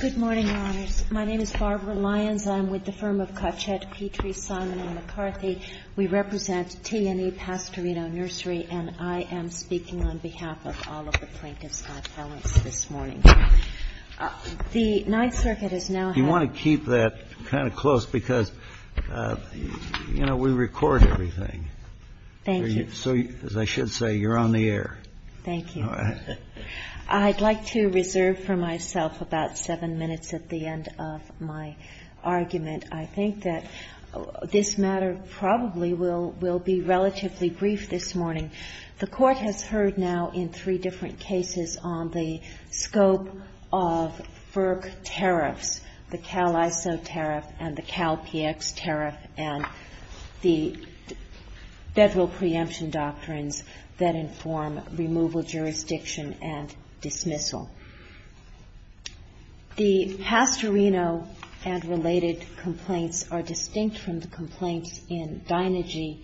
Good morning, Your Honors. My name is Barbara Lyons. I'm with the firm of Cotchette, Petrie, Simon & McCarthy. We represent T&E Pastorino Nursery, and I am speaking on behalf of all of the plaintiffs' high felons this morning. The Ninth Circuit has now had— You want to keep that kind of close because, you know, we record everything. Thank you. So, as I should say, you're on the air. Thank you. I'd like to reserve for myself about seven minutes at the end of my argument. I think that this matter probably will be relatively brief this morning. The Court has heard now in three different cases on the scope of FERC tariffs, the Cal-ISO tariff and the Cal-PX tariff, and the federal preemption doctrines that inform removal, jurisdiction, and dismissal. The Pastorino and related complaints are distinct from the complaints in Deinergy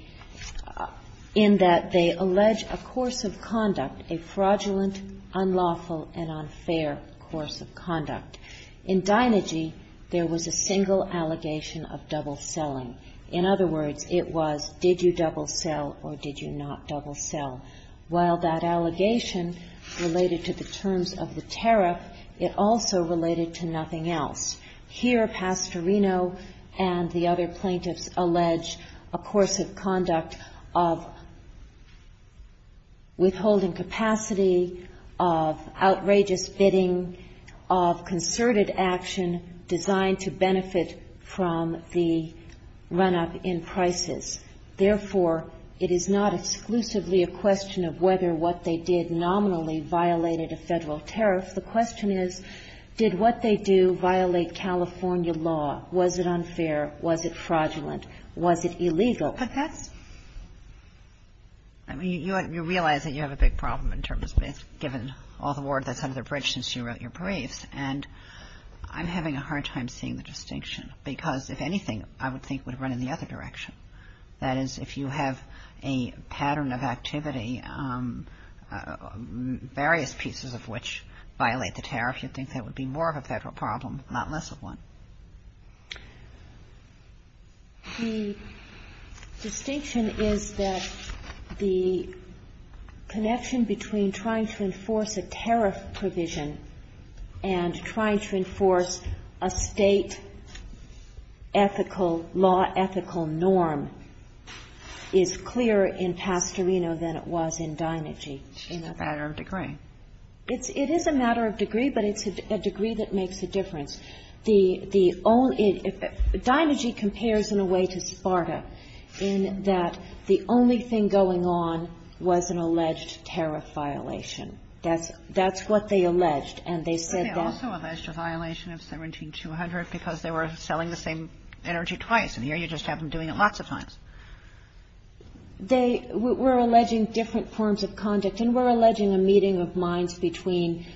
in that they allege a course of conduct, a fraudulent, unlawful, and unfair course of conduct. In Deinergy, there was a single allegation of double-selling. In other words, it was, did you double-sell or did you not double-sell? While that allegation related to the terms of the tariff, it also related to nothing else. Here, Pastorino and the other plaintiffs allege a course of conduct of withholding capacity, of outrageous bidding, of concerted action designed to benefit from the run-up in prices. Therefore, it is not exclusively a question of whether what they did nominally violated a federal tariff. The question is, did what they do violate California law? Was it unfair? Was it fraudulent? Was it illegal? But that's – I mean, you realize that you have a big problem in terms of this, given all the work that's under the bridge since you wrote your briefs. And I'm having a hard time seeing the distinction because, if anything, I would think would run in the other direction. That is, if you have a pattern of activity, various pieces of which violate the tariff, you'd think that would be more of a federal problem, not less of one. The distinction is that the connection between trying to enforce a tariff provision and trying to enforce a State ethical law, ethical norm, is clearer in Pastorino than it was in Deinergy. It's a matter of degree. It is a matter of degree, but it's a degree that makes a difference. Deinergy compares in a way to Sparta in that the only thing going on was an alleged tariff violation. That's what they alleged, and they said that – Kagan. They also alleged a violation of 17200 because they were selling the same energy twice, and here you just have them doing it lots of times. They were alleging different forms of conduct, and were alleging a meeting of minds between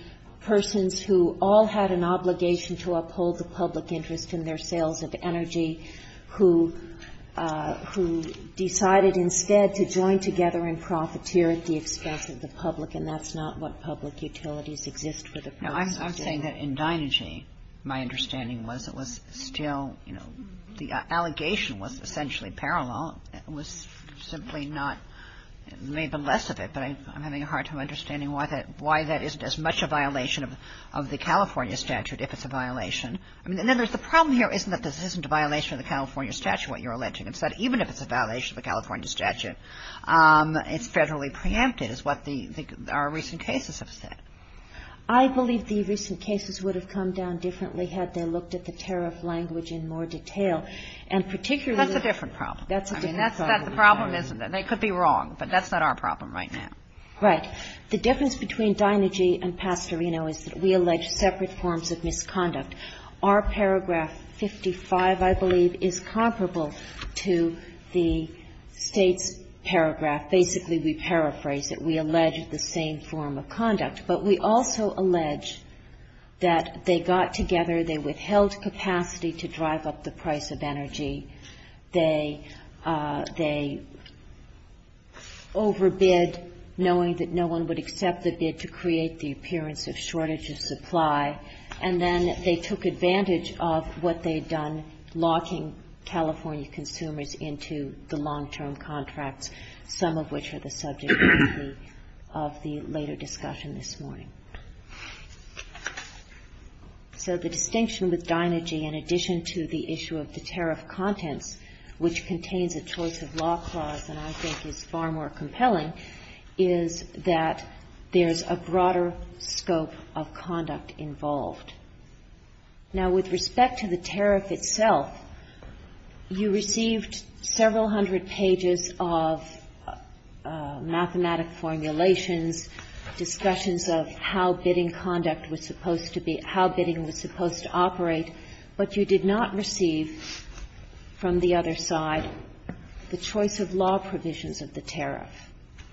persons who all had an obligation to uphold the public interest in their sales of energy, who decided instead to join together and profiteer at the expense of the public, and that's not what public utilities exist for the purpose of doing. Now, I'm saying that in Deinergy, my understanding was it was still – the allegation was essentially parallel. It was simply not – maybe less of it, but I'm having a hard time understanding why that isn't as much a violation of the California statute if it's a violation. And then there's the problem here isn't that this isn't a violation of the California statute, what you're alleging. It's that even if it's a violation of the California statute, it's federally preempted, is what the – our recent cases have said. I believe the recent cases would have come down differently had they looked at the tariff language in more detail. And particularly – That's a different problem. That's a different problem. I mean, that's not the problem, isn't it? They could be wrong, but that's not our problem right now. Right. The difference between Deinergy and Pastorino is that we allege separate forms of misconduct. Our paragraph 55, I believe, is comparable to the State's paragraph. Basically, we paraphrase it. We allege the same form of conduct. But we also allege that they got together, they withheld capacity to drive up the price of energy. They overbid, knowing that no one would accept the bid to create the appearance of shortage of supply. And then they took advantage of what they had done, locking California consumers into the long-term contracts, some of which are the subject of the later discussion this morning. So the distinction with Deinergy, in addition to the issue of the tariff context, which contains a choice of law clause, and I think is far more compelling, is that there's a broader scope of conduct involved. Now, with respect to the tariff itself, you received several hundred pages of mathematic formulations, discussions of how bidding conduct was supposed to be conducted, from the other side, the choice of law provisions of the tariff.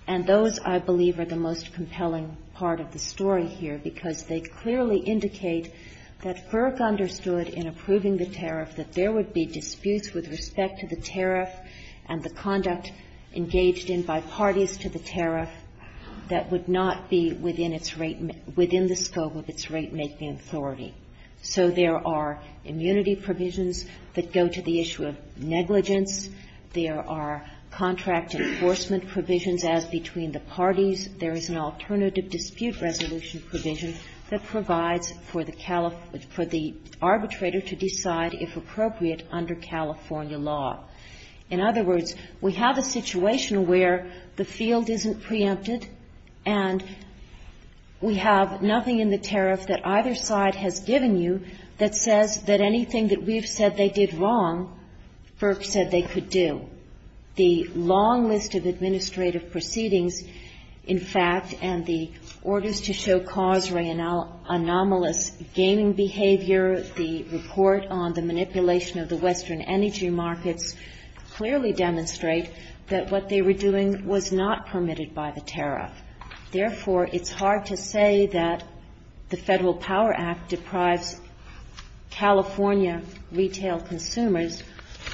And those, I believe, are the most compelling part of the story here, because they clearly indicate that Burke understood in approving the tariff that there would be disputes with respect to the tariff and the conduct engaged in by parties to the tariff that would not be within its rate — within the scope of its ratemaking authority. So there are immunity provisions that go to the issue of negligence. There are contract enforcement provisions as between the parties. There is an alternative dispute resolution provision that provides for the arbitrator to decide, if appropriate, under California law. In other words, we have a situation where the field isn't preempted and we have nothing in the tariff that either side has given you that says that anything that we've said they did wrong, Burke said they could do. The long list of administrative proceedings, in fact, and the orders to show cause anomalous gaming behavior, the report on the manipulation of the Western energy markets clearly demonstrate that what they were doing was not permitted by the tariff. Therefore, it's hard to say that the Federal Power Act deprives California retail consumers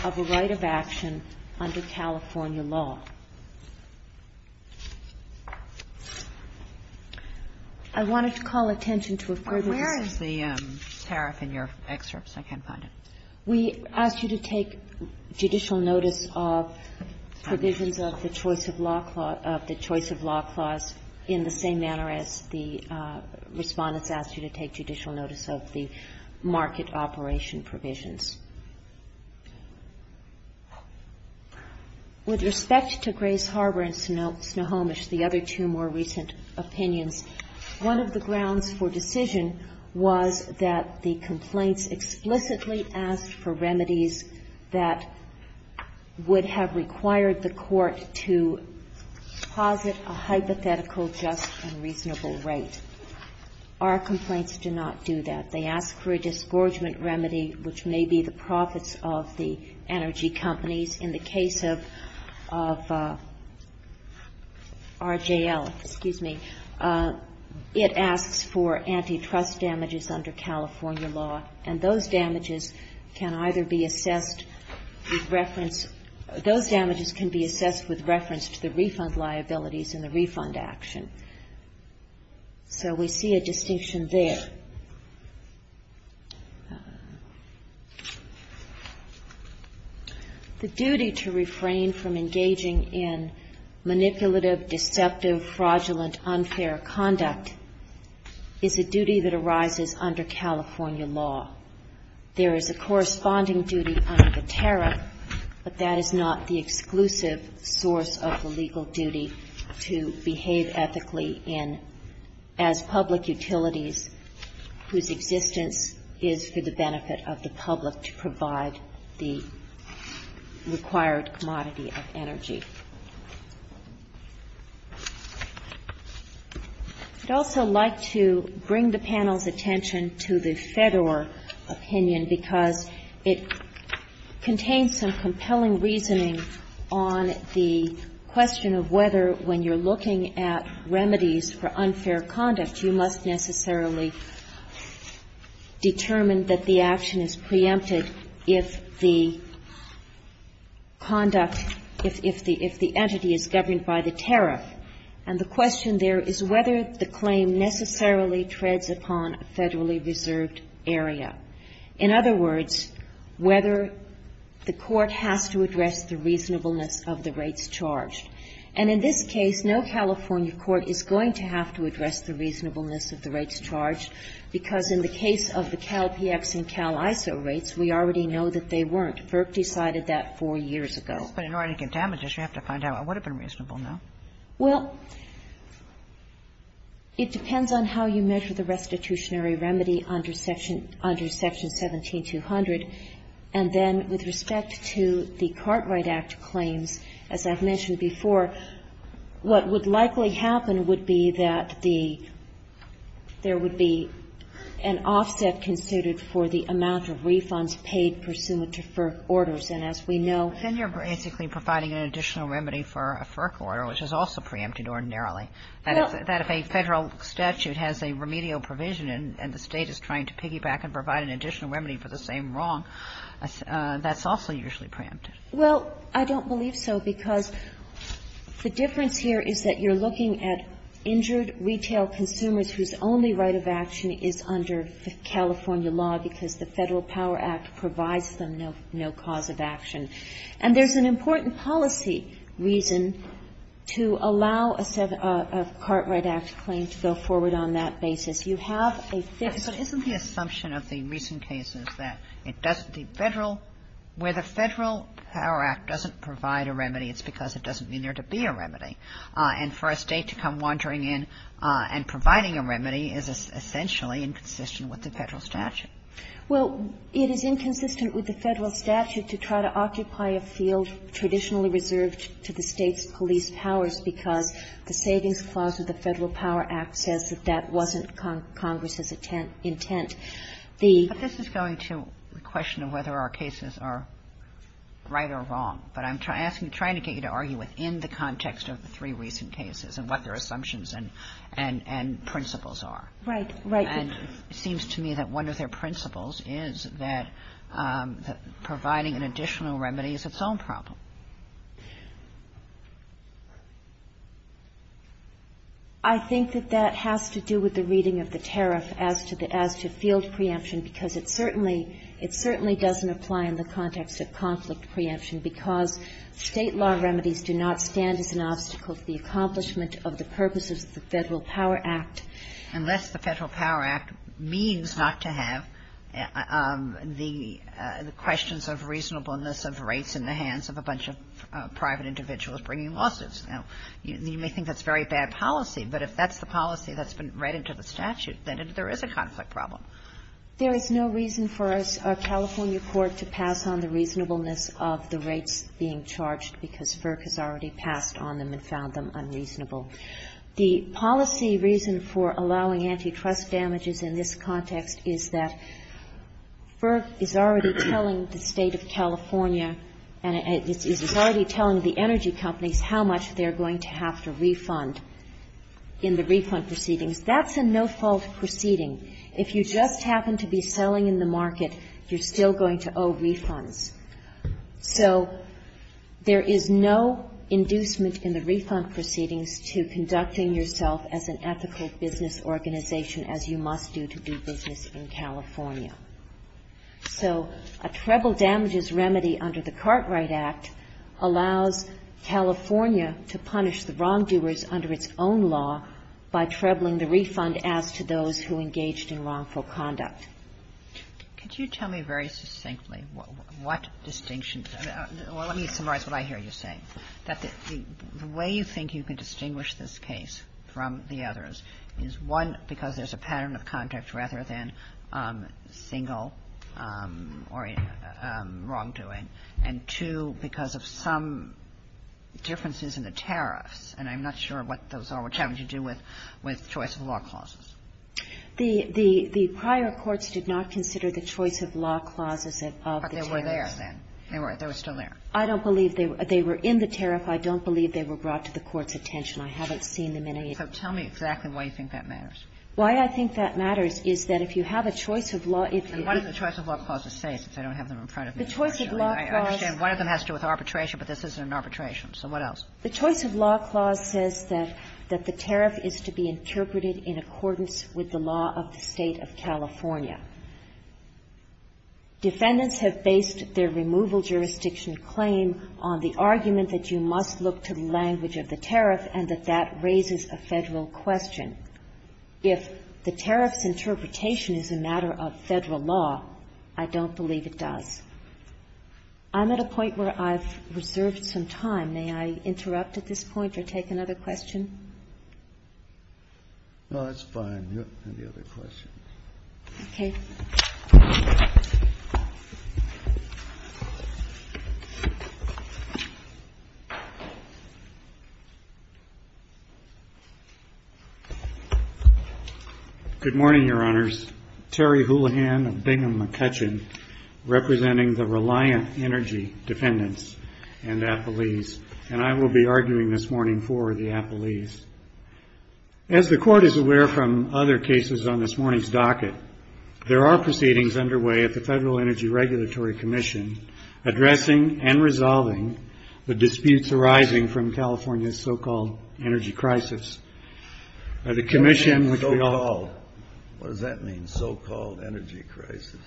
of a right of action under California law. I wanted to call attention to a previous question. Kagan. Where is the tariff in your excerpts? I can't find it. We asked you to take judicial notice of provisions of the choice of law clause in the same manner as the Respondents asked you to take judicial notice of the market operation provisions. With respect to Grace Harbor and Snohomish, the other two more recent opinions, one of the grounds for decision was that the complaints explicitly asked for remedies that would have required the court to posit a hypothetical just and reasonable rate. Our complaints do not do that. They ask for a disgorgement remedy, which may be the profits of the energy companies. In the case of RJL, it asks for antitrust damages under California law, and those damages can either be assessed with reference to the refund liabilities and the refund action. So we see a distinction there. The duty to refrain from engaging in manipulative, deceptive, fraudulent, unfair conduct is a duty that arises under California law. There is a corresponding duty under the tariff, but that is not the exclusive source of the legal duty to behave ethically as public utilities whose existence is for the benefit of the public to provide the required commodity of energy. I'd also like to bring the panel's attention to the Fedor opinion, because it contains some compelling reasoning on the question of whether, when you're looking at remedies for unfair conduct, you must necessarily determine that the action is preempted if the conduct, if the entity is governed by the tariff. And the question there is whether the claim necessarily treads upon a federally reserved area. In other words, whether the court has to address the reasonableness of the rates charged. And in this case, no California court is going to have to address the reasonableness of the rates charged, because in the case of the CalPX and CalISO rates, we already know that they weren't. FERC decided that four years ago. But in order to get damages, you have to find out what would have been reasonable now. Well, it depends on how you measure the restitutionary remedy under Section 17-200. And then with respect to the Cartwright Act claims, as I've mentioned before, what would likely happen would be that the – there would be an offset considered for the amount of refunds paid pursuant to FERC orders. And as we know – Then you're basically providing an additional remedy for a FERC order, which is also preempted ordinarily. That if a Federal statute has a remedial provision and the State is trying to piggyback and provide an additional remedy for the same wrong, that's also usually preempted. Well, I don't believe so, because the difference here is that you're looking at injured retail consumers whose only right of action is under the California law, because the Federal Power Act provides them no – no cause of action. And there's an important policy reason to allow a – a Cartwright Act claim to go forward You have a fixed – But isn't the assumption of the recent cases that it doesn't – the Federal – where the Federal Power Act doesn't provide a remedy, it's because it doesn't mean there to be a remedy. And for a State to come wandering in and providing a remedy is essentially inconsistent with the Federal statute. Well, it is inconsistent with the Federal statute to try to occupy a field traditionally reserved to the State's police powers, because the Savings Clause of the Federal Power Act says that that wasn't Congress's intent. The – But this is going to the question of whether our cases are right or wrong. But I'm asking – trying to get you to argue within the context of the three recent cases and what their assumptions and – and principles are. Right. Right. And it seems to me that one of their principles is that providing an additional remedy is its own problem. I think that that has to do with the reading of the tariff as to the – as to field preemption, because it certainly – it certainly doesn't apply in the context of conflict preemption, because State law remedies do not stand as an obstacle to the accomplishment of the purposes of the Federal Power Act. Unless the Federal Power Act means not to have the – the questions of reasonableness of rates in the hands of a bunch of private individuals bringing lawsuits. Now, you may think that's very bad policy, but if that's the policy that's been read into the statute, then there is a conflict problem. There is no reason for a California court to pass on the reasonableness of the rates being charged, because FERC has already passed on them and found them unreasonable. The policy reason for allowing antitrust damages in this context is that FERC is already telling the State of California and is already telling the energy companies how much they're going to have to refund in the refund proceedings. That's a no-fault proceeding. If you just happen to be selling in the market, you're still going to owe refunds. So there is no inducement in the refund proceedings to conducting yourself as an ethical business organization, as you must do to do business in California. So a treble damages remedy under the Cartwright Act allows California to punish the wrongdoers under its own law by trebling the refund as to those who engaged in wrongful conduct. Kagan. Could you tell me very succinctly what distinction – let me summarize what I hear you say, that the way you think you can distinguish this case from the others is, one, because there's a pattern of conduct rather than single or wrongdoing, and, two, because of some differences in the tariffs. And I'm not sure what those are, which have to do with choice-of-law clauses. The prior courts did not consider the choice-of-law clauses of the tariffs. But they were there then. They were still there. I don't believe they were in the tariff. I don't believe they were brought to the court's attention. I haven't seen them in a year. So tell me exactly why you think that matters. Why I think that matters is that if you have a choice-of-law – And what does the choice-of-law clause say, since I don't have them in front of me? The choice-of-law clause – I understand one of them has to do with arbitration, but this isn't an arbitration. So what else? The choice-of-law clause says that the tariff is to be interpreted in accordance with the law of the State of California. Defendants have based their removal jurisdiction claim on the argument that you must look to the language of the tariff and that that raises a Federal question. If the tariff's interpretation is a matter of Federal law, I don't believe it does. I'm at a point where I've reserved some time. May I interrupt at this point or take another question? No, that's fine. Any other questions? Okay. Good morning, Your Honors. Terry Houlihan of Bingham McCutcheon, representing the Reliant Energy Defendants and Appellees, and I will be arguing this morning for the appellees. As the Court is aware from other cases on this morning's docket, there are proceedings underway at the Federal Energy Regulatory Commission addressing and resolving the disputes arising from California's so-called energy crisis. The Commission, which we all – What does that mean, so-called energy crisis?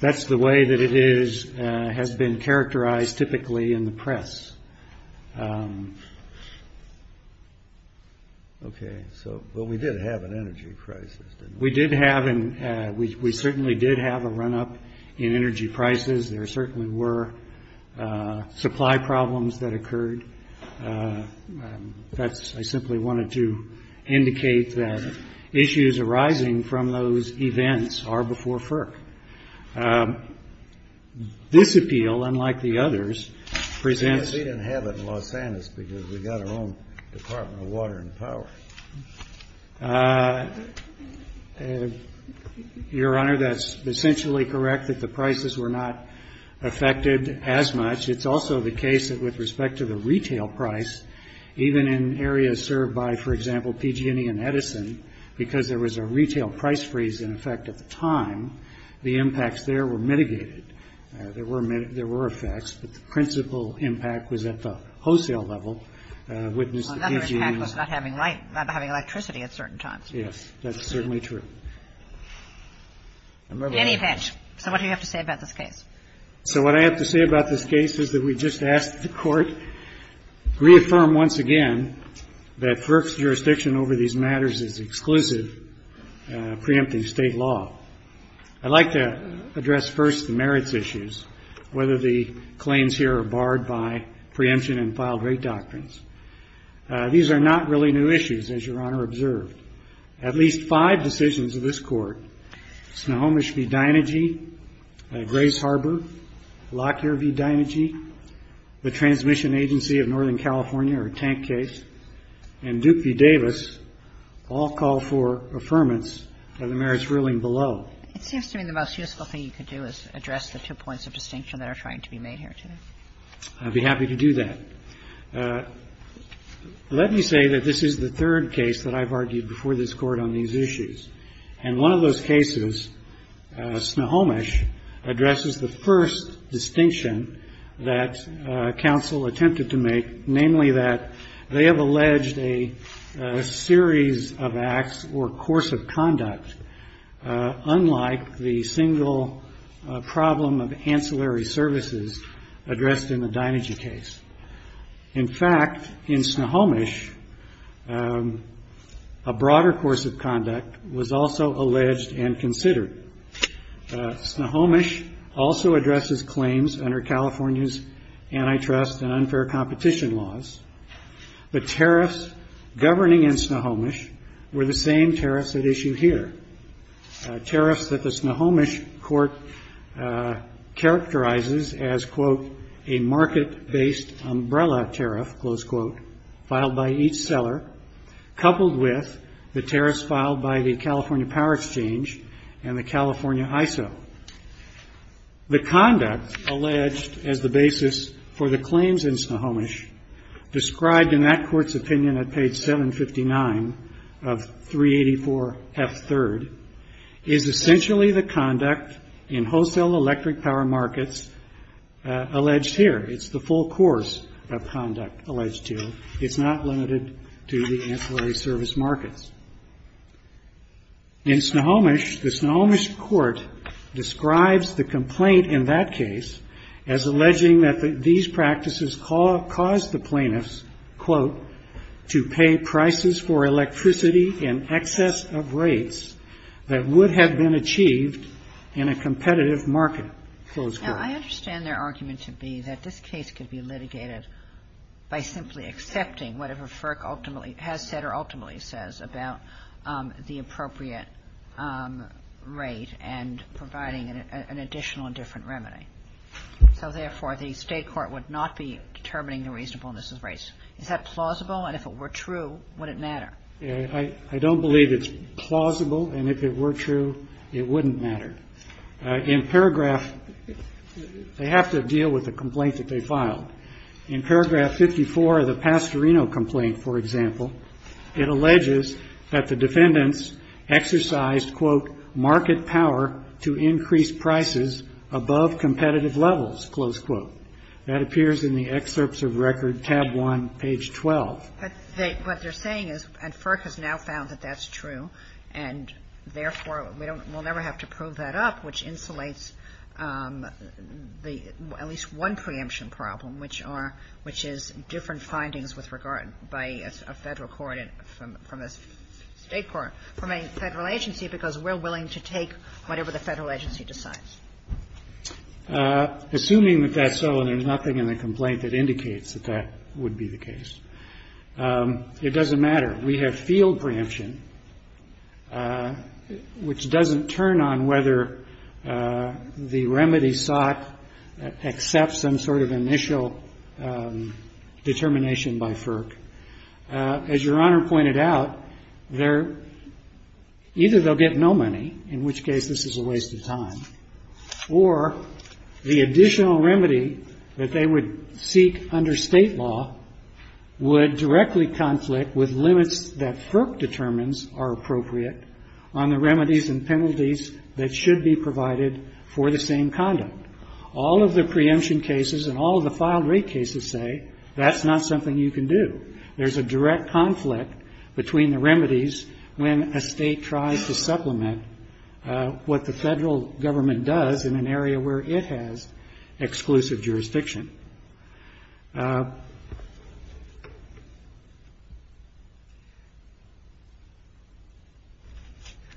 That's the way that it is – has been characterized typically in the press. Okay, so – well, we did have an energy crisis, didn't we? We did have an – we certainly did have a run-up in energy prices. That's – I simply wanted to indicate that issues arising from those events are before FERC. This appeal, unlike the others, presents – We didn't have it in Los Angeles because we've got our own Department of Water and Power. Your Honor, that's essentially correct that the prices were not affected as much. It's also the case that with respect to the retail price, even in areas served by, for example, PG&E and Edison, because there was a retail price freeze in effect at the time, the impacts there were mitigated. There were – there were effects, but the principal impact was at the wholesale level. Another impact was not having electricity at certain times. Yes, that's certainly true. Danny Petsch. So what do you have to say about this case? So what I have to say about this case is that we just asked the Court to reaffirm once again that FERC's jurisdiction over these matters is exclusive, preempting State law. I'd like to address first the merits issues, whether the claims here are barred by preemption and filed-rate doctrines. These are not really new issues, as Your Honor observed. At least five decisions of this Court, Snohomish v. Dynegy, Grace Harbor, Lockyer v. Dynegy, the Transmission Agency of Northern California, or Tank case, and Duke v. Davis, all call for affirmance of the merits ruling below. It seems to me the most useful thing you could do is address the two points of distinction that are trying to be made here today. I'd be happy to do that. Let me say that this is the third case that I've argued before this Court on these issues. And one of those cases, Snohomish, addresses the first distinction that counsel attempted to make, namely that they have alleged a series of acts or course of conduct unlike the single problem of ancillary services addressed in the Dynegy case. In fact, in Snohomish, a broader course of conduct was also alleged and considered. Snohomish also addresses claims under California's antitrust and unfair competition laws, but tariffs governing in Snohomish were the same tariffs at issue here, tariffs that the Snohomish Court characterizes as, quote, a market-based umbrella tariff, close quote, filed by each seller, coupled with the tariffs filed by the California Power Exchange and the California ISO. The conduct alleged as the basis for the claims in Snohomish, described in that court's opinion at page 759 of 384F3rd, is essentially the conduct in wholesale electric power markets alleged here. It's the full course of conduct alleged here. It's not limited to the ancillary service markets. In Snohomish, the Snohomish Court describes the complaint in that case as alleging that these practices caused the plaintiffs, quote, to pay prices for electricity in excess of rates that would have been achieved in a competitive market, close quote. Kagan. Now, I understand their argument to be that this case could be litigated by simply accepting whatever FERC ultimately has said or ultimately says about the appropriate rate and providing an additional and different remedy. So, therefore, the State court would not be determining the reasonableness of rates. Is that plausible? And if it were true, would it matter? I don't believe it's plausible. And if it were true, it wouldn't matter. In paragraph they have to deal with the complaint that they filed. In paragraph 54 of the Pastorino complaint, for example, it alleges that the defendants exercised, quote, market power to increase prices above competitive levels, close quote. That appears in the excerpts of record tab 1, page 12. But what they're saying is, and FERC has now found that that's true, and therefore we'll never have to prove that up, which insulates at least one preemption problem, which are, which is different findings with regard by a Federal court and from a State court, from a Federal agency, because we're willing to take whatever the Federal agency decides. Assuming that that's so and there's nothing in the complaint that indicates that that would be the case, it doesn't matter. We have field preemption, which doesn't turn on whether the remedy sought accepts some sort of initial determination by FERC. As Your Honor pointed out, there, either they'll get no money, in which case this is a waste of time, or the additional remedy that they would seek under State law would directly conflict with limits that FERC determines are appropriate on the remedies and penalties that should be provided for the same conduct. All of the preemption cases and all of the filed rate cases say that's not something you can do. There's a direct conflict between the remedies when a State tries to supplement what the Federal government does in an area where it has exclusive jurisdiction.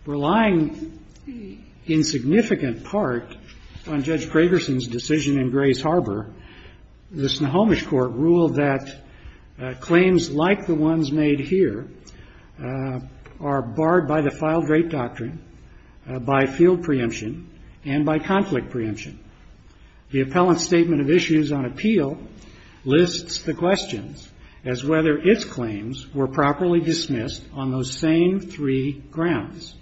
Relying in significant part on Judge Gregersen's decision in Grays Harbor, the Snohomish Court ruled that claims like the ones made here are barred by the filed rate doctrine, by field preemption, and by conflict preemption. The appellant's statement of issues on appeal lists the questions as whether its claims were properly dismissed on those same three grounds.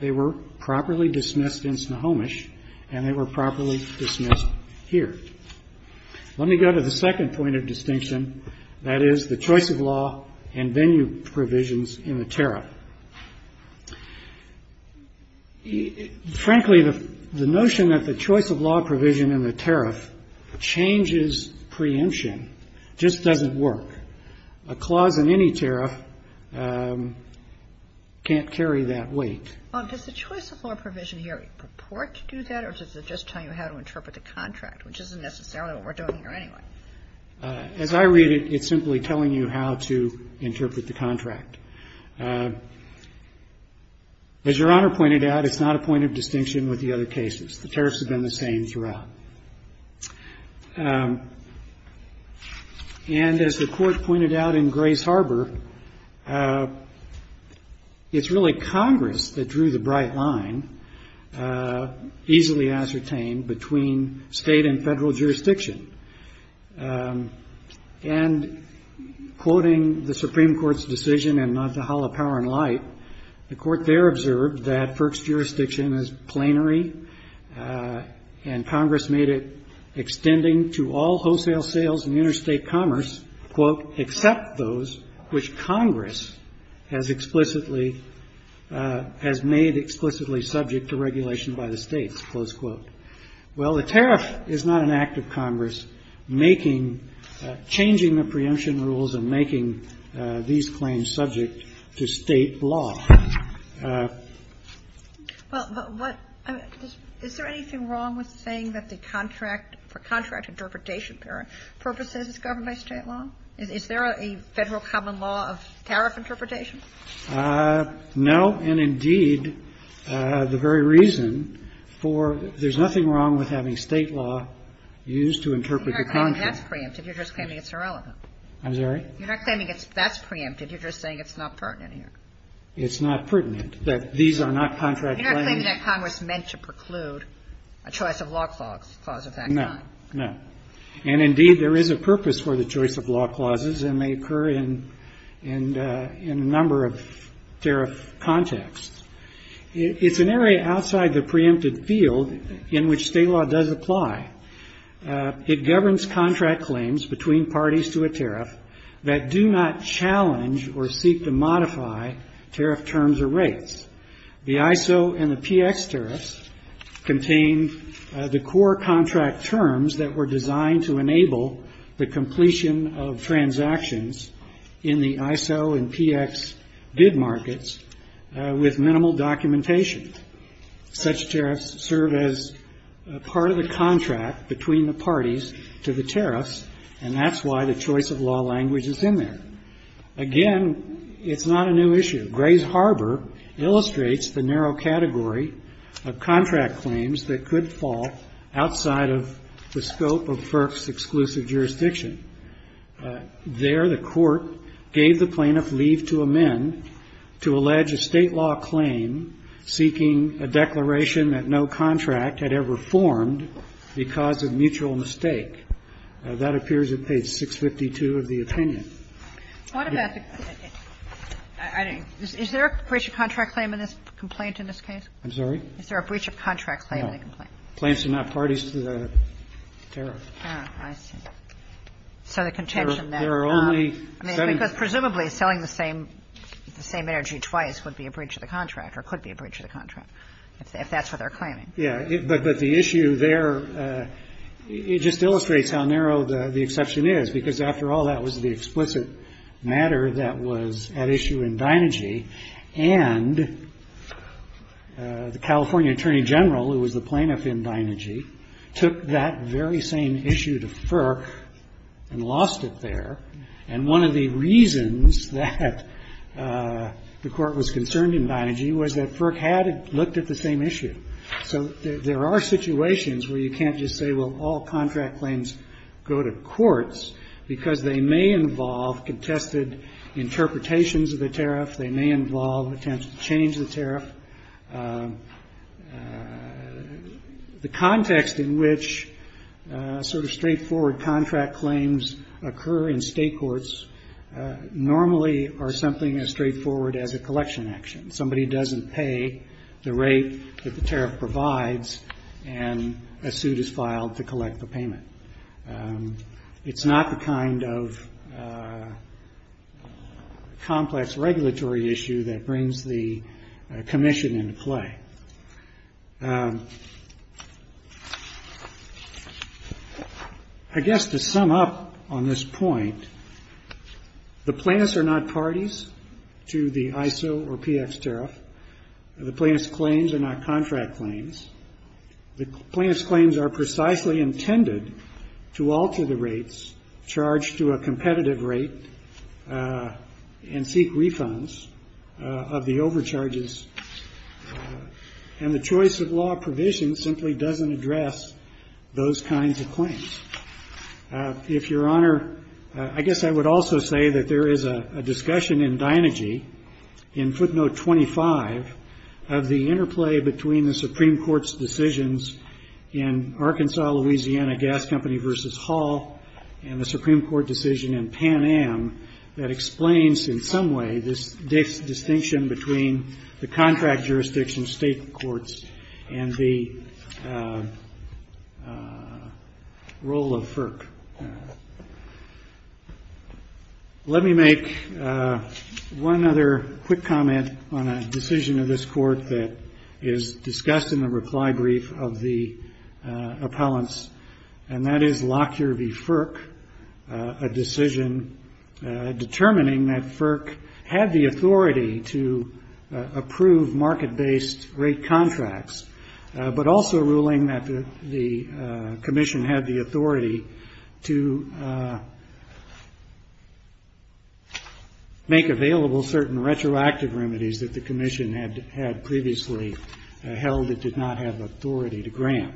They were properly dismissed in Snohomish, and they were properly dismissed here. Let me go to the second point of distinction, that is, the choice of law and venue provisions in the tariff. Frankly, the notion that the choice of law provision in the tariff changes preemption just doesn't work. A clause in any tariff can't carry that weight. Kagan. Well, does the choice of law provision here purport to do that, or does it just tell you how to interpret the contract, which isn't necessarily what we're doing here anyway? As Your Honor pointed out, it's not a point of distinction with the other cases. The tariffs have been the same throughout. And as the Court pointed out in Grays Harbor, it's really Congress that drew the bright line, easily ascertained, between State and Federal jurisdiction. And quoting the Supreme Court's decision in Nantahala Power and Light, the Court there observed that FERC's jurisdiction is plenary, and Congress made it extending to all wholesale sales and interstate commerce, quote, except those which Congress has explicitly – has made explicitly subject to regulation by the States, close quote. Well, the tariff is not an act of Congress making – changing the preemption rules and making these claims subject to State law. Well, but what – is there anything wrong with saying that the contract for contract interpretation purposes is governed by State law? Is there a Federal common law of tariff interpretation? No. And indeed, the very reason for – there's nothing wrong with having State law used to interpret the contract. You're not claiming that's preempted. You're just claiming it's irrelevant. I'm sorry? You're not claiming that's preempted. You're just saying it's not pertinent here. It's not pertinent, that these are not contract claims. You're not claiming that Congress meant to preclude a choice of law clause of that kind. No. And indeed, there is a purpose for the choice of law clauses, and they occur in a number of tariff contexts. It's an area outside the preempted field in which State law does apply. It governs contract claims between parties to a tariff that do not challenge or seek to modify tariff terms or rates. The ISO and the PX tariffs contain the core contract terms that were designed to enable the completion of transactions in the ISO and PX bid markets with minimal documentation. Such tariffs serve as part of the contract between the parties to the tariffs, and that's why the choice of law language is in there. Again, it's not a new issue. Gray's Harbor illustrates the narrow category of contract claims that could fall outside of the scope of FERC's exclusive jurisdiction. There, the Court gave the plaintiff leave to amend to allege a State law claim seeking a declaration that no contract had ever formed because of mutual mistake. That appears at page 652 of the opinion. Kagan. Is there a breach of contract claim in this complaint in this case? I'm sorry? Is there a breach of contract claim in the complaint? The plaintiffs are not parties to the tariff. Oh, I see. So the contention there is not. There are only seven. I mean, because presumably selling the same energy twice would be a breach of the contract or could be a breach of the contract, if that's what they're claiming. Yeah. But the issue there, it just illustrates how narrow the exception is, because after all, that was the explicit matter that was at issue in Dynergy. And the California Attorney General, who was the plaintiff in Dynergy, took that very same issue to FERC and lost it there. And one of the reasons that the Court was concerned in Dynergy was that FERC had looked at the same issue. So there are situations where you can't just say, well, all contract claims go to courts because they may involve contested interpretations of the tariff. They may involve attempts to change the tariff. The context in which sort of straightforward contract claims occur in state courts normally are something as straightforward as a collection action. Somebody doesn't pay the rate that the tariff provides, and a suit is filed to collect the payment. It's not the kind of complex regulatory issue that brings the commission into play. I guess to sum up on this point, the plaintiffs are not parties to the ISO or PX tariff. The plaintiffs' claims are not contract claims. The plaintiffs' claims are precisely intended to alter the rates charged to a competitive rate and seek refunds of the overcharges. And the choice of law provision simply doesn't address those kinds of claims. If Your Honor, I guess I would also say that there is a discussion in Dynergy, in footnote 25, of the interplay between the Supreme Court's decisions in Arkansas-Louisiana Gas Company v. Hall and the Supreme Court decision in Pan Am that explains in some way this distinction between the contract jurisdiction state courts and the role of FERC. Let me make one other quick comment on a decision of this Court that is discussed in the reply brief of the appellants, and that is Lockyer v. FERC, a decision determining that FERC had the authority to approve market-based rate contracts, but also ruling that the Commission had the authority to make available certain retroactive remedies that the Commission had previously held it did not have authority to grant.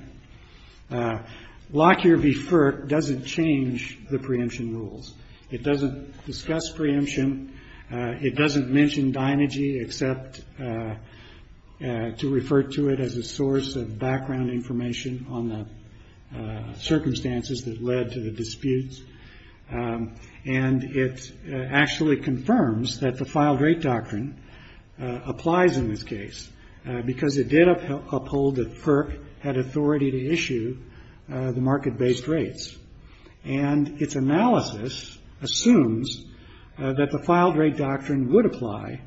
Lockyer v. FERC doesn't change the preemption rules. It doesn't discuss preemption. It doesn't mention Dynergy except to refer to it as a source of background information on the circumstances that led to the disputes. And it actually confirms that the filed rate doctrine applies in this case, because it did uphold that FERC had authority to issue the market-based rates. And its analysis assumes that the filed rate doctrine would apply,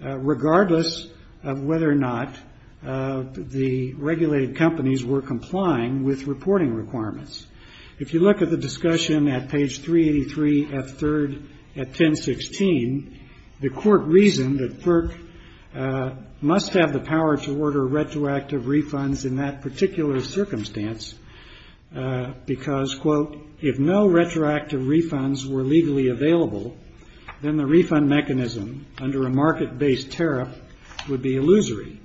regardless of whether or not the regulated companies were complying with reporting requirements. If you look at the discussion at page 383, F3, at 1016, the Court reasoned that FERC must have the power to order retroactive refunds in that particular circumstance, because, quote, if no retroactive refunds were legally available, then the refund mechanism under a market-based tariff would be illusory.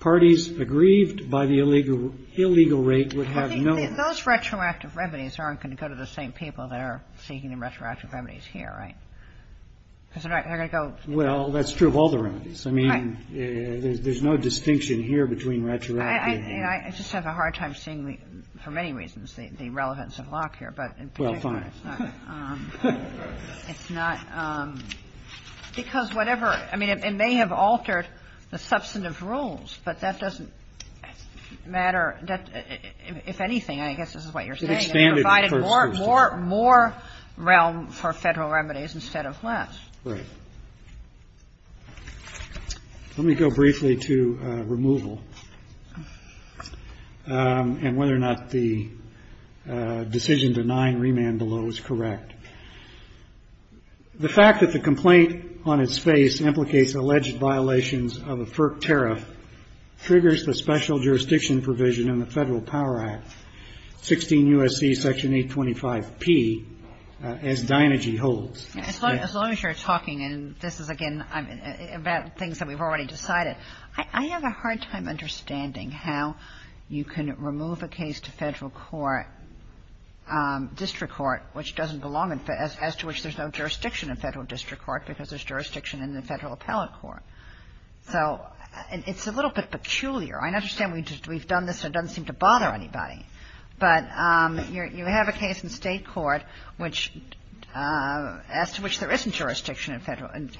Parties aggrieved by the illegal rate would have no ---- I think those retroactive remedies aren't going to go to the same people that are seeking retroactive remedies here, right? Because they're not going to go to the same people. Well, that's true of all the remedies. I mean, there's no distinction here between retroactive and illegal. I just have a hard time seeing, for many reasons, the relevance of Locke here. But in particular, it's not. Well, fine. It's not. Because whatever ---- I mean, it may have altered the substantive rules, but that doesn't matter. If anything, I guess this is what you're saying. It provided more realm for Federal remedies instead of less. Right. Let me go briefly to removal and whether or not the decision denying remand below is correct. The fact that the complaint on its face implicates alleged violations of a FERC tariff triggers the special jurisdiction provision in the Federal Power Act, 16 U.S.C. Section 825P, as Dinergy holds. As long as you're talking, and this is, again, about things that we've already decided, I have a hard time understanding how you can remove a case to Federal court, district court, which doesn't belong in ---- as to which there's no jurisdiction in Federal district court because there's jurisdiction in the Federal appellate court. So it's a little bit peculiar. I understand we've done this and it doesn't seem to bother anybody, but you have a case in State court which ---- as to which there isn't jurisdiction in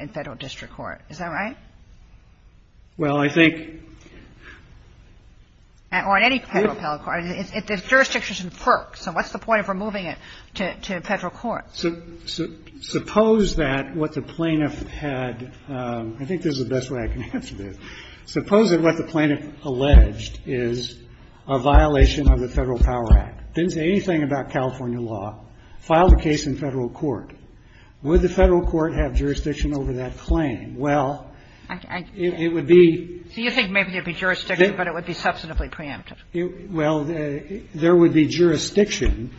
Federal district court. Is that right? Well, I think ---- Or in any Federal appellate court. There's jurisdiction in FERC. So what's the point of removing it to Federal court? Suppose that what the plaintiff had ---- I think this is the best way I can answer this. Suppose that what the plaintiff alleged is a violation of the Federal Power Act. Didn't say anything about California law. Filed a case in Federal court. Would the Federal court have jurisdiction over that claim? Well, it would be ---- So you think maybe there would be jurisdiction, but it would be substantively preemptive. Well, there would be jurisdiction,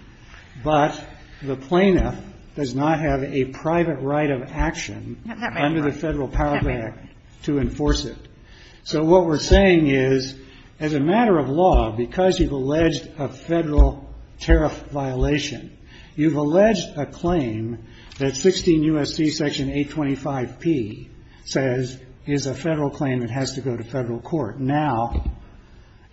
but the plaintiff does not have a private right of action under the Federal Power Act to enforce it. So what we're saying is, as a matter of law, because you've alleged a Federal tariff violation, you've alleged a claim that 16 U.S.C. section 825P says is a Federal claim that has to go to Federal court. Now,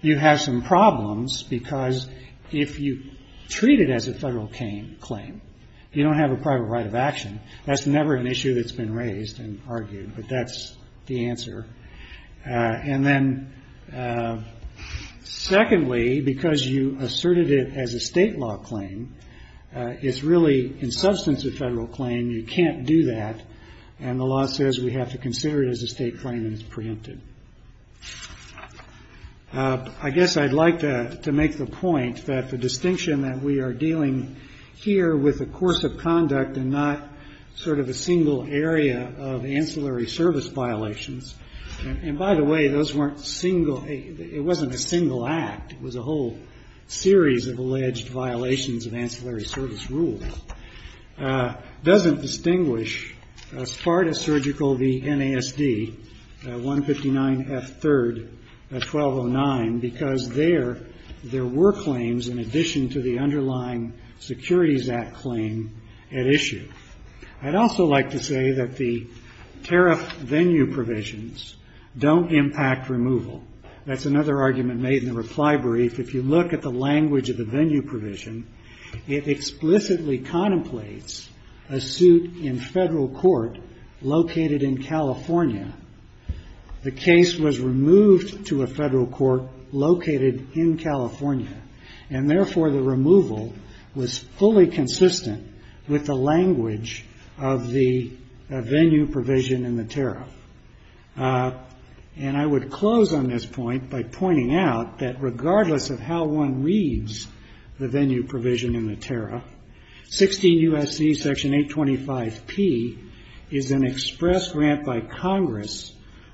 you have some problems because if you treat it as a Federal claim, you don't have a private right of action. That's never an issue that's been raised and argued, but that's the answer. And then secondly, because you asserted it as a State law claim, it's really in substance a Federal claim. You can't do that. And the law says we have to consider it as a State claim and it's preemptive. I guess I'd like to make the point that the distinction that we are dealing here with the course of conduct and not sort of a single area of ancillary service violations. And by the way, those weren't single – it wasn't a single act. It was a whole series of alleged violations of ancillary service rules. It doesn't distinguish as far as surgical the NASD, 159F3-1209, because there, there were claims in addition to the underlying Securities Act claim at issue. I'd also like to say that the tariff venue provisions don't impact removal. That's another argument made in the reply brief. If you look at the language of the venue provision, it explicitly contemplates a suit in Federal court located in California. The case was removed to a Federal court located in California. And therefore, the removal was fully consistent with the language of the venue provision in the tariff. And I would close on this point by pointing out that regardless of how one reads the venue provision in the tariff, 16 U.S.C. Section 825P is an express grant by Congress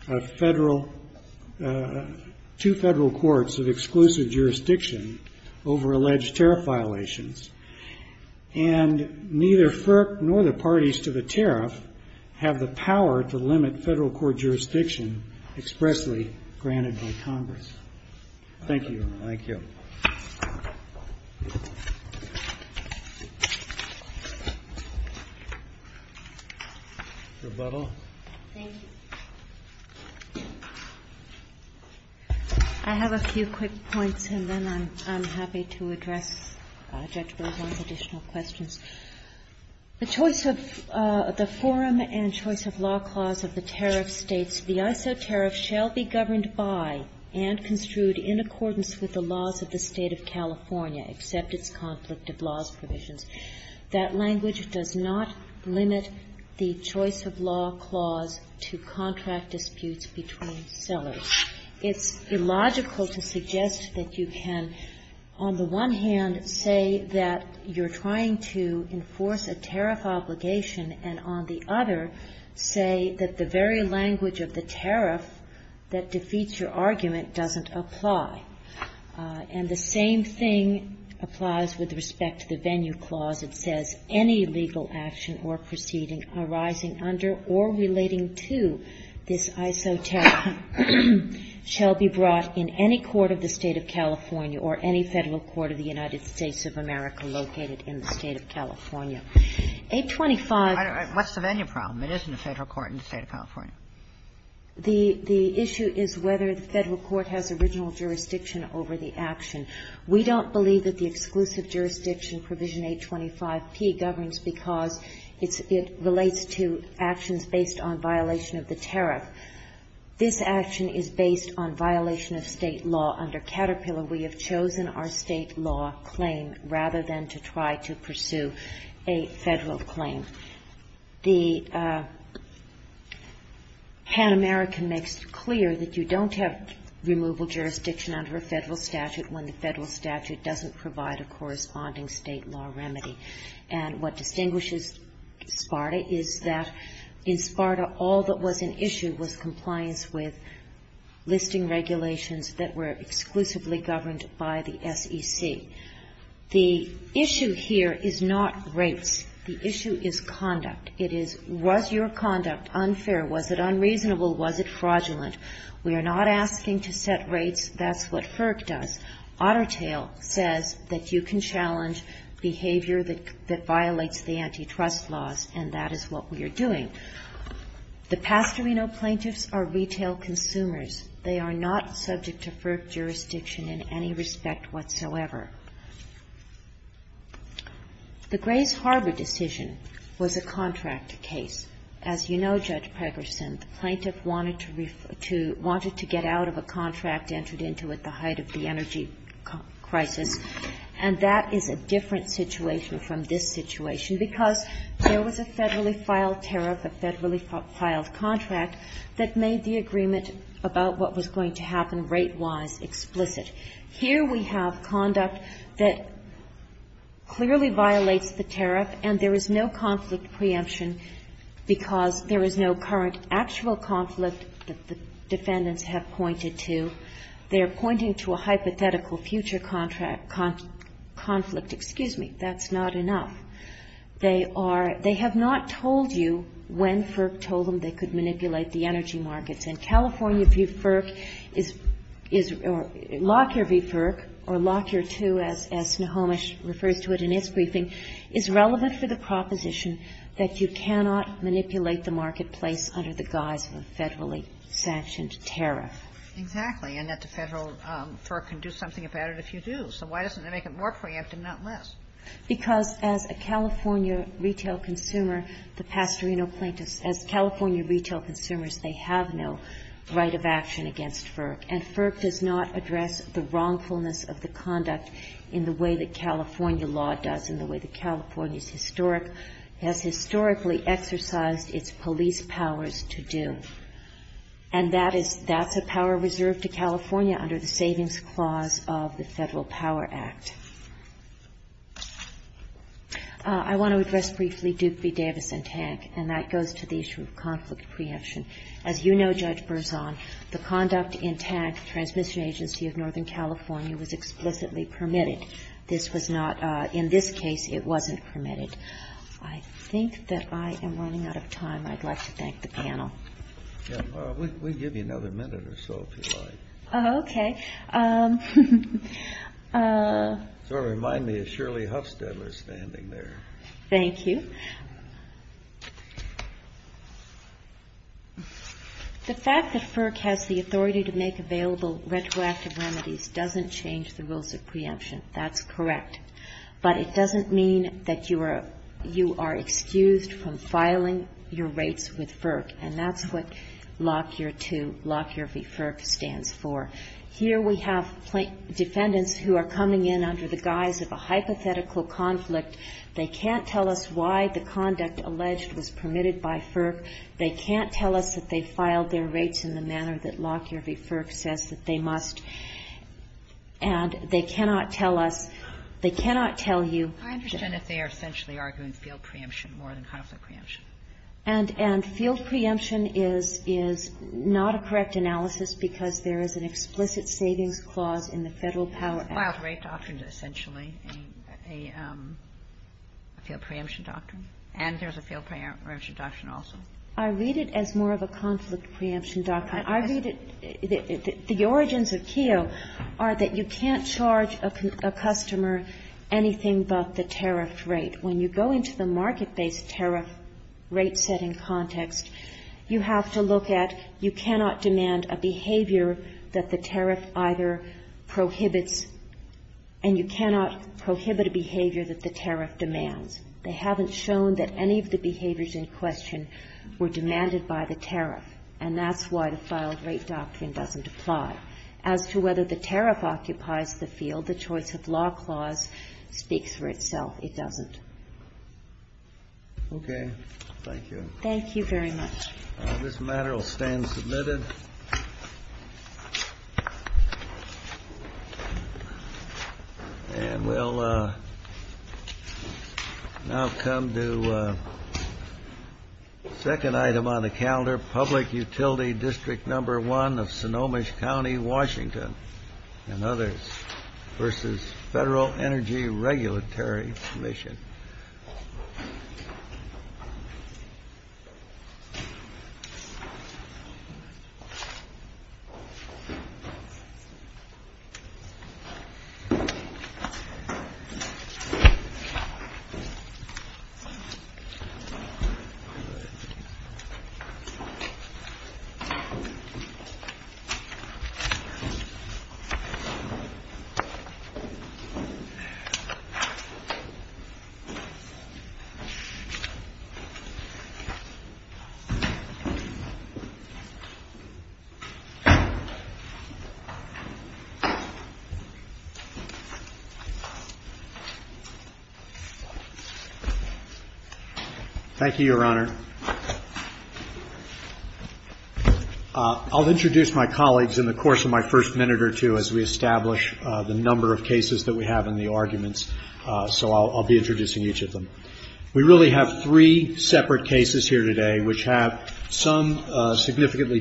of Federal – two Federal courts of exclusive jurisdiction over alleged tariff violations. And neither FERC nor the parties to the tariff have the power to limit Federal court jurisdiction expressly granted by Congress. Thank you. Thank you. Rebuttal? Thank you. I have a few quick points, and then I'm happy to address Judge Bergeron's additional questions. The choice of the forum and choice of law clause of the tariff states, the ISO tariff shall be governed by and construed in accordance with the laws of the State of California except its conflict of laws provisions. That language does not limit the choice of law clause to contract disputes between sellers. It's illogical to suggest that you can, on the one hand, say that you're trying to enforce a tariff obligation, and on the other, say that the very language of the tariff that defeats your argument doesn't apply. And the same thing applies with respect to the venue clause. It says any legal action or proceeding arising under or relating to this ISO tariff shall be brought in any court of the State of California or any Federal court of the United States of America located in the State of California. 825. What's the venue problem? It isn't a Federal court in the State of California. The issue is whether the Federal court has original jurisdiction over the action. We don't believe that the exclusive jurisdiction provision 825P governs because it relates to actions based on violation of the tariff. This action is based on violation of State law under Caterpillar. We have chosen our State law claim rather than to try to pursue a Federal claim. The Pan American makes it clear that you don't have removal jurisdiction under a Federal statute when the Federal statute doesn't provide a corresponding State law remedy. And what distinguishes SPARTA is that in SPARTA, all that was an issue was compliance with listing regulations that were exclusively governed by the SEC. The issue here is not rates. The issue is conduct. It is was your conduct unfair? Was it unreasonable? Was it fraudulent? We are not asking to set rates. That's what FERC does. Ottertail says that you can challenge behavior that violates the antitrust laws, and that is what we are doing. The Pastorino plaintiffs are retail consumers. They are not subject to FERC jurisdiction in any respect whatsoever. The Grays Harbor decision was a contract case. As you know, Judge Pegerson, the plaintiff wanted to get out of a contract entered into at the height of the energy crisis. And that is a different situation from this situation because there was a Federally filed tariff, a Federally filed contract that made the agreement about what was going to happen rate-wise explicit. Here we have conduct that clearly violates the tariff, and there is no conflict preemption because there is no current actual conflict that the defendants have pointed to. They are pointing to a hypothetical future contract conflict. Excuse me. That's not enough. They are they have not told you when FERC told them they could manipulate the energy markets, and California v. FERC is or Lockyer v. FERC or Lockyer II, as Snohomish refers to it in its briefing, is relevant for the proposition that you cannot manipulate the marketplace under the guise of a Federally sanctioned tariff. Exactly, and that the Federal FERC can do something about it if you do. So why doesn't it make it more preemptive, not less? Because as a California retail consumer, the Pastorino plaintiffs, as California retail consumers, they have no right of action against FERC. And FERC does not address the wrongfulness of the conduct in the way that California law does, in the way that California's historic has historically exercised its police powers to do. And that is, that's a power reserved to California under the Savings Clause of the Federal Code. I want to address briefly Duke v. Davis and Tank, and that goes to the issue of conflict preemption. As you know, Judge Berzon, the conduct in Tank, the transmission agency of Northern California, was explicitly permitted. This was not, in this case, it wasn't permitted. I think that I am running out of time. I'd like to thank the panel. We'll give you another minute or so, if you like. Okay. So it reminded me of Shirley Hufstedler standing there. Thank you. The fact that FERC has the authority to make available retroactive remedies doesn't change the rules of preemption. That's correct. But it doesn't mean that you are excused from filing your rates with FERC. And that's what Lockyer v. FERC stands for. Here we have defendants who are coming in under the guise of a hypothetical conflict. They can't tell us why the conduct alleged was permitted by FERC. They can't tell us that they filed their rates in the manner that Lockyer v. FERC says that they must. And they cannot tell us, they cannot tell you that. I understand that they are essentially arguing field preemption more than conflict preemption. And field preemption is not a correct analysis because there is an explicit savings clause in the Federal Power Act. Well, rate doctrine is essentially a field preemption doctrine. And there's a field preemption doctrine also. I read it as more of a conflict preemption doctrine. I read it, the origins of KEO are that you can't charge a customer anything but the tariff rate. When you go into the market-based tariff rate setting context, you have to look at you cannot demand a behavior that the tariff either prohibits and you cannot prohibit a behavior that the tariff demands. They haven't shown that any of the behaviors in question were demanded by the tariff. And that's why the filed rate doctrine doesn't apply. As to whether the tariff occupies the field, the choice of law clause speaks for itself. It doesn't. Okay. Thank you. Thank you very much. This matter will stand submitted. And we'll now come to the second item on the calendar, Public Utility District number one of Sonoma County, Washington, and others versus Federal Energy Regulatory Commission. Thank you, Your Honor. Thank you. I'll introduce my colleagues in the course of my first minute or two as we establish the number of cases that we have and the arguments. So I'll be introducing each of them. We really have three separate cases here today which have some significantly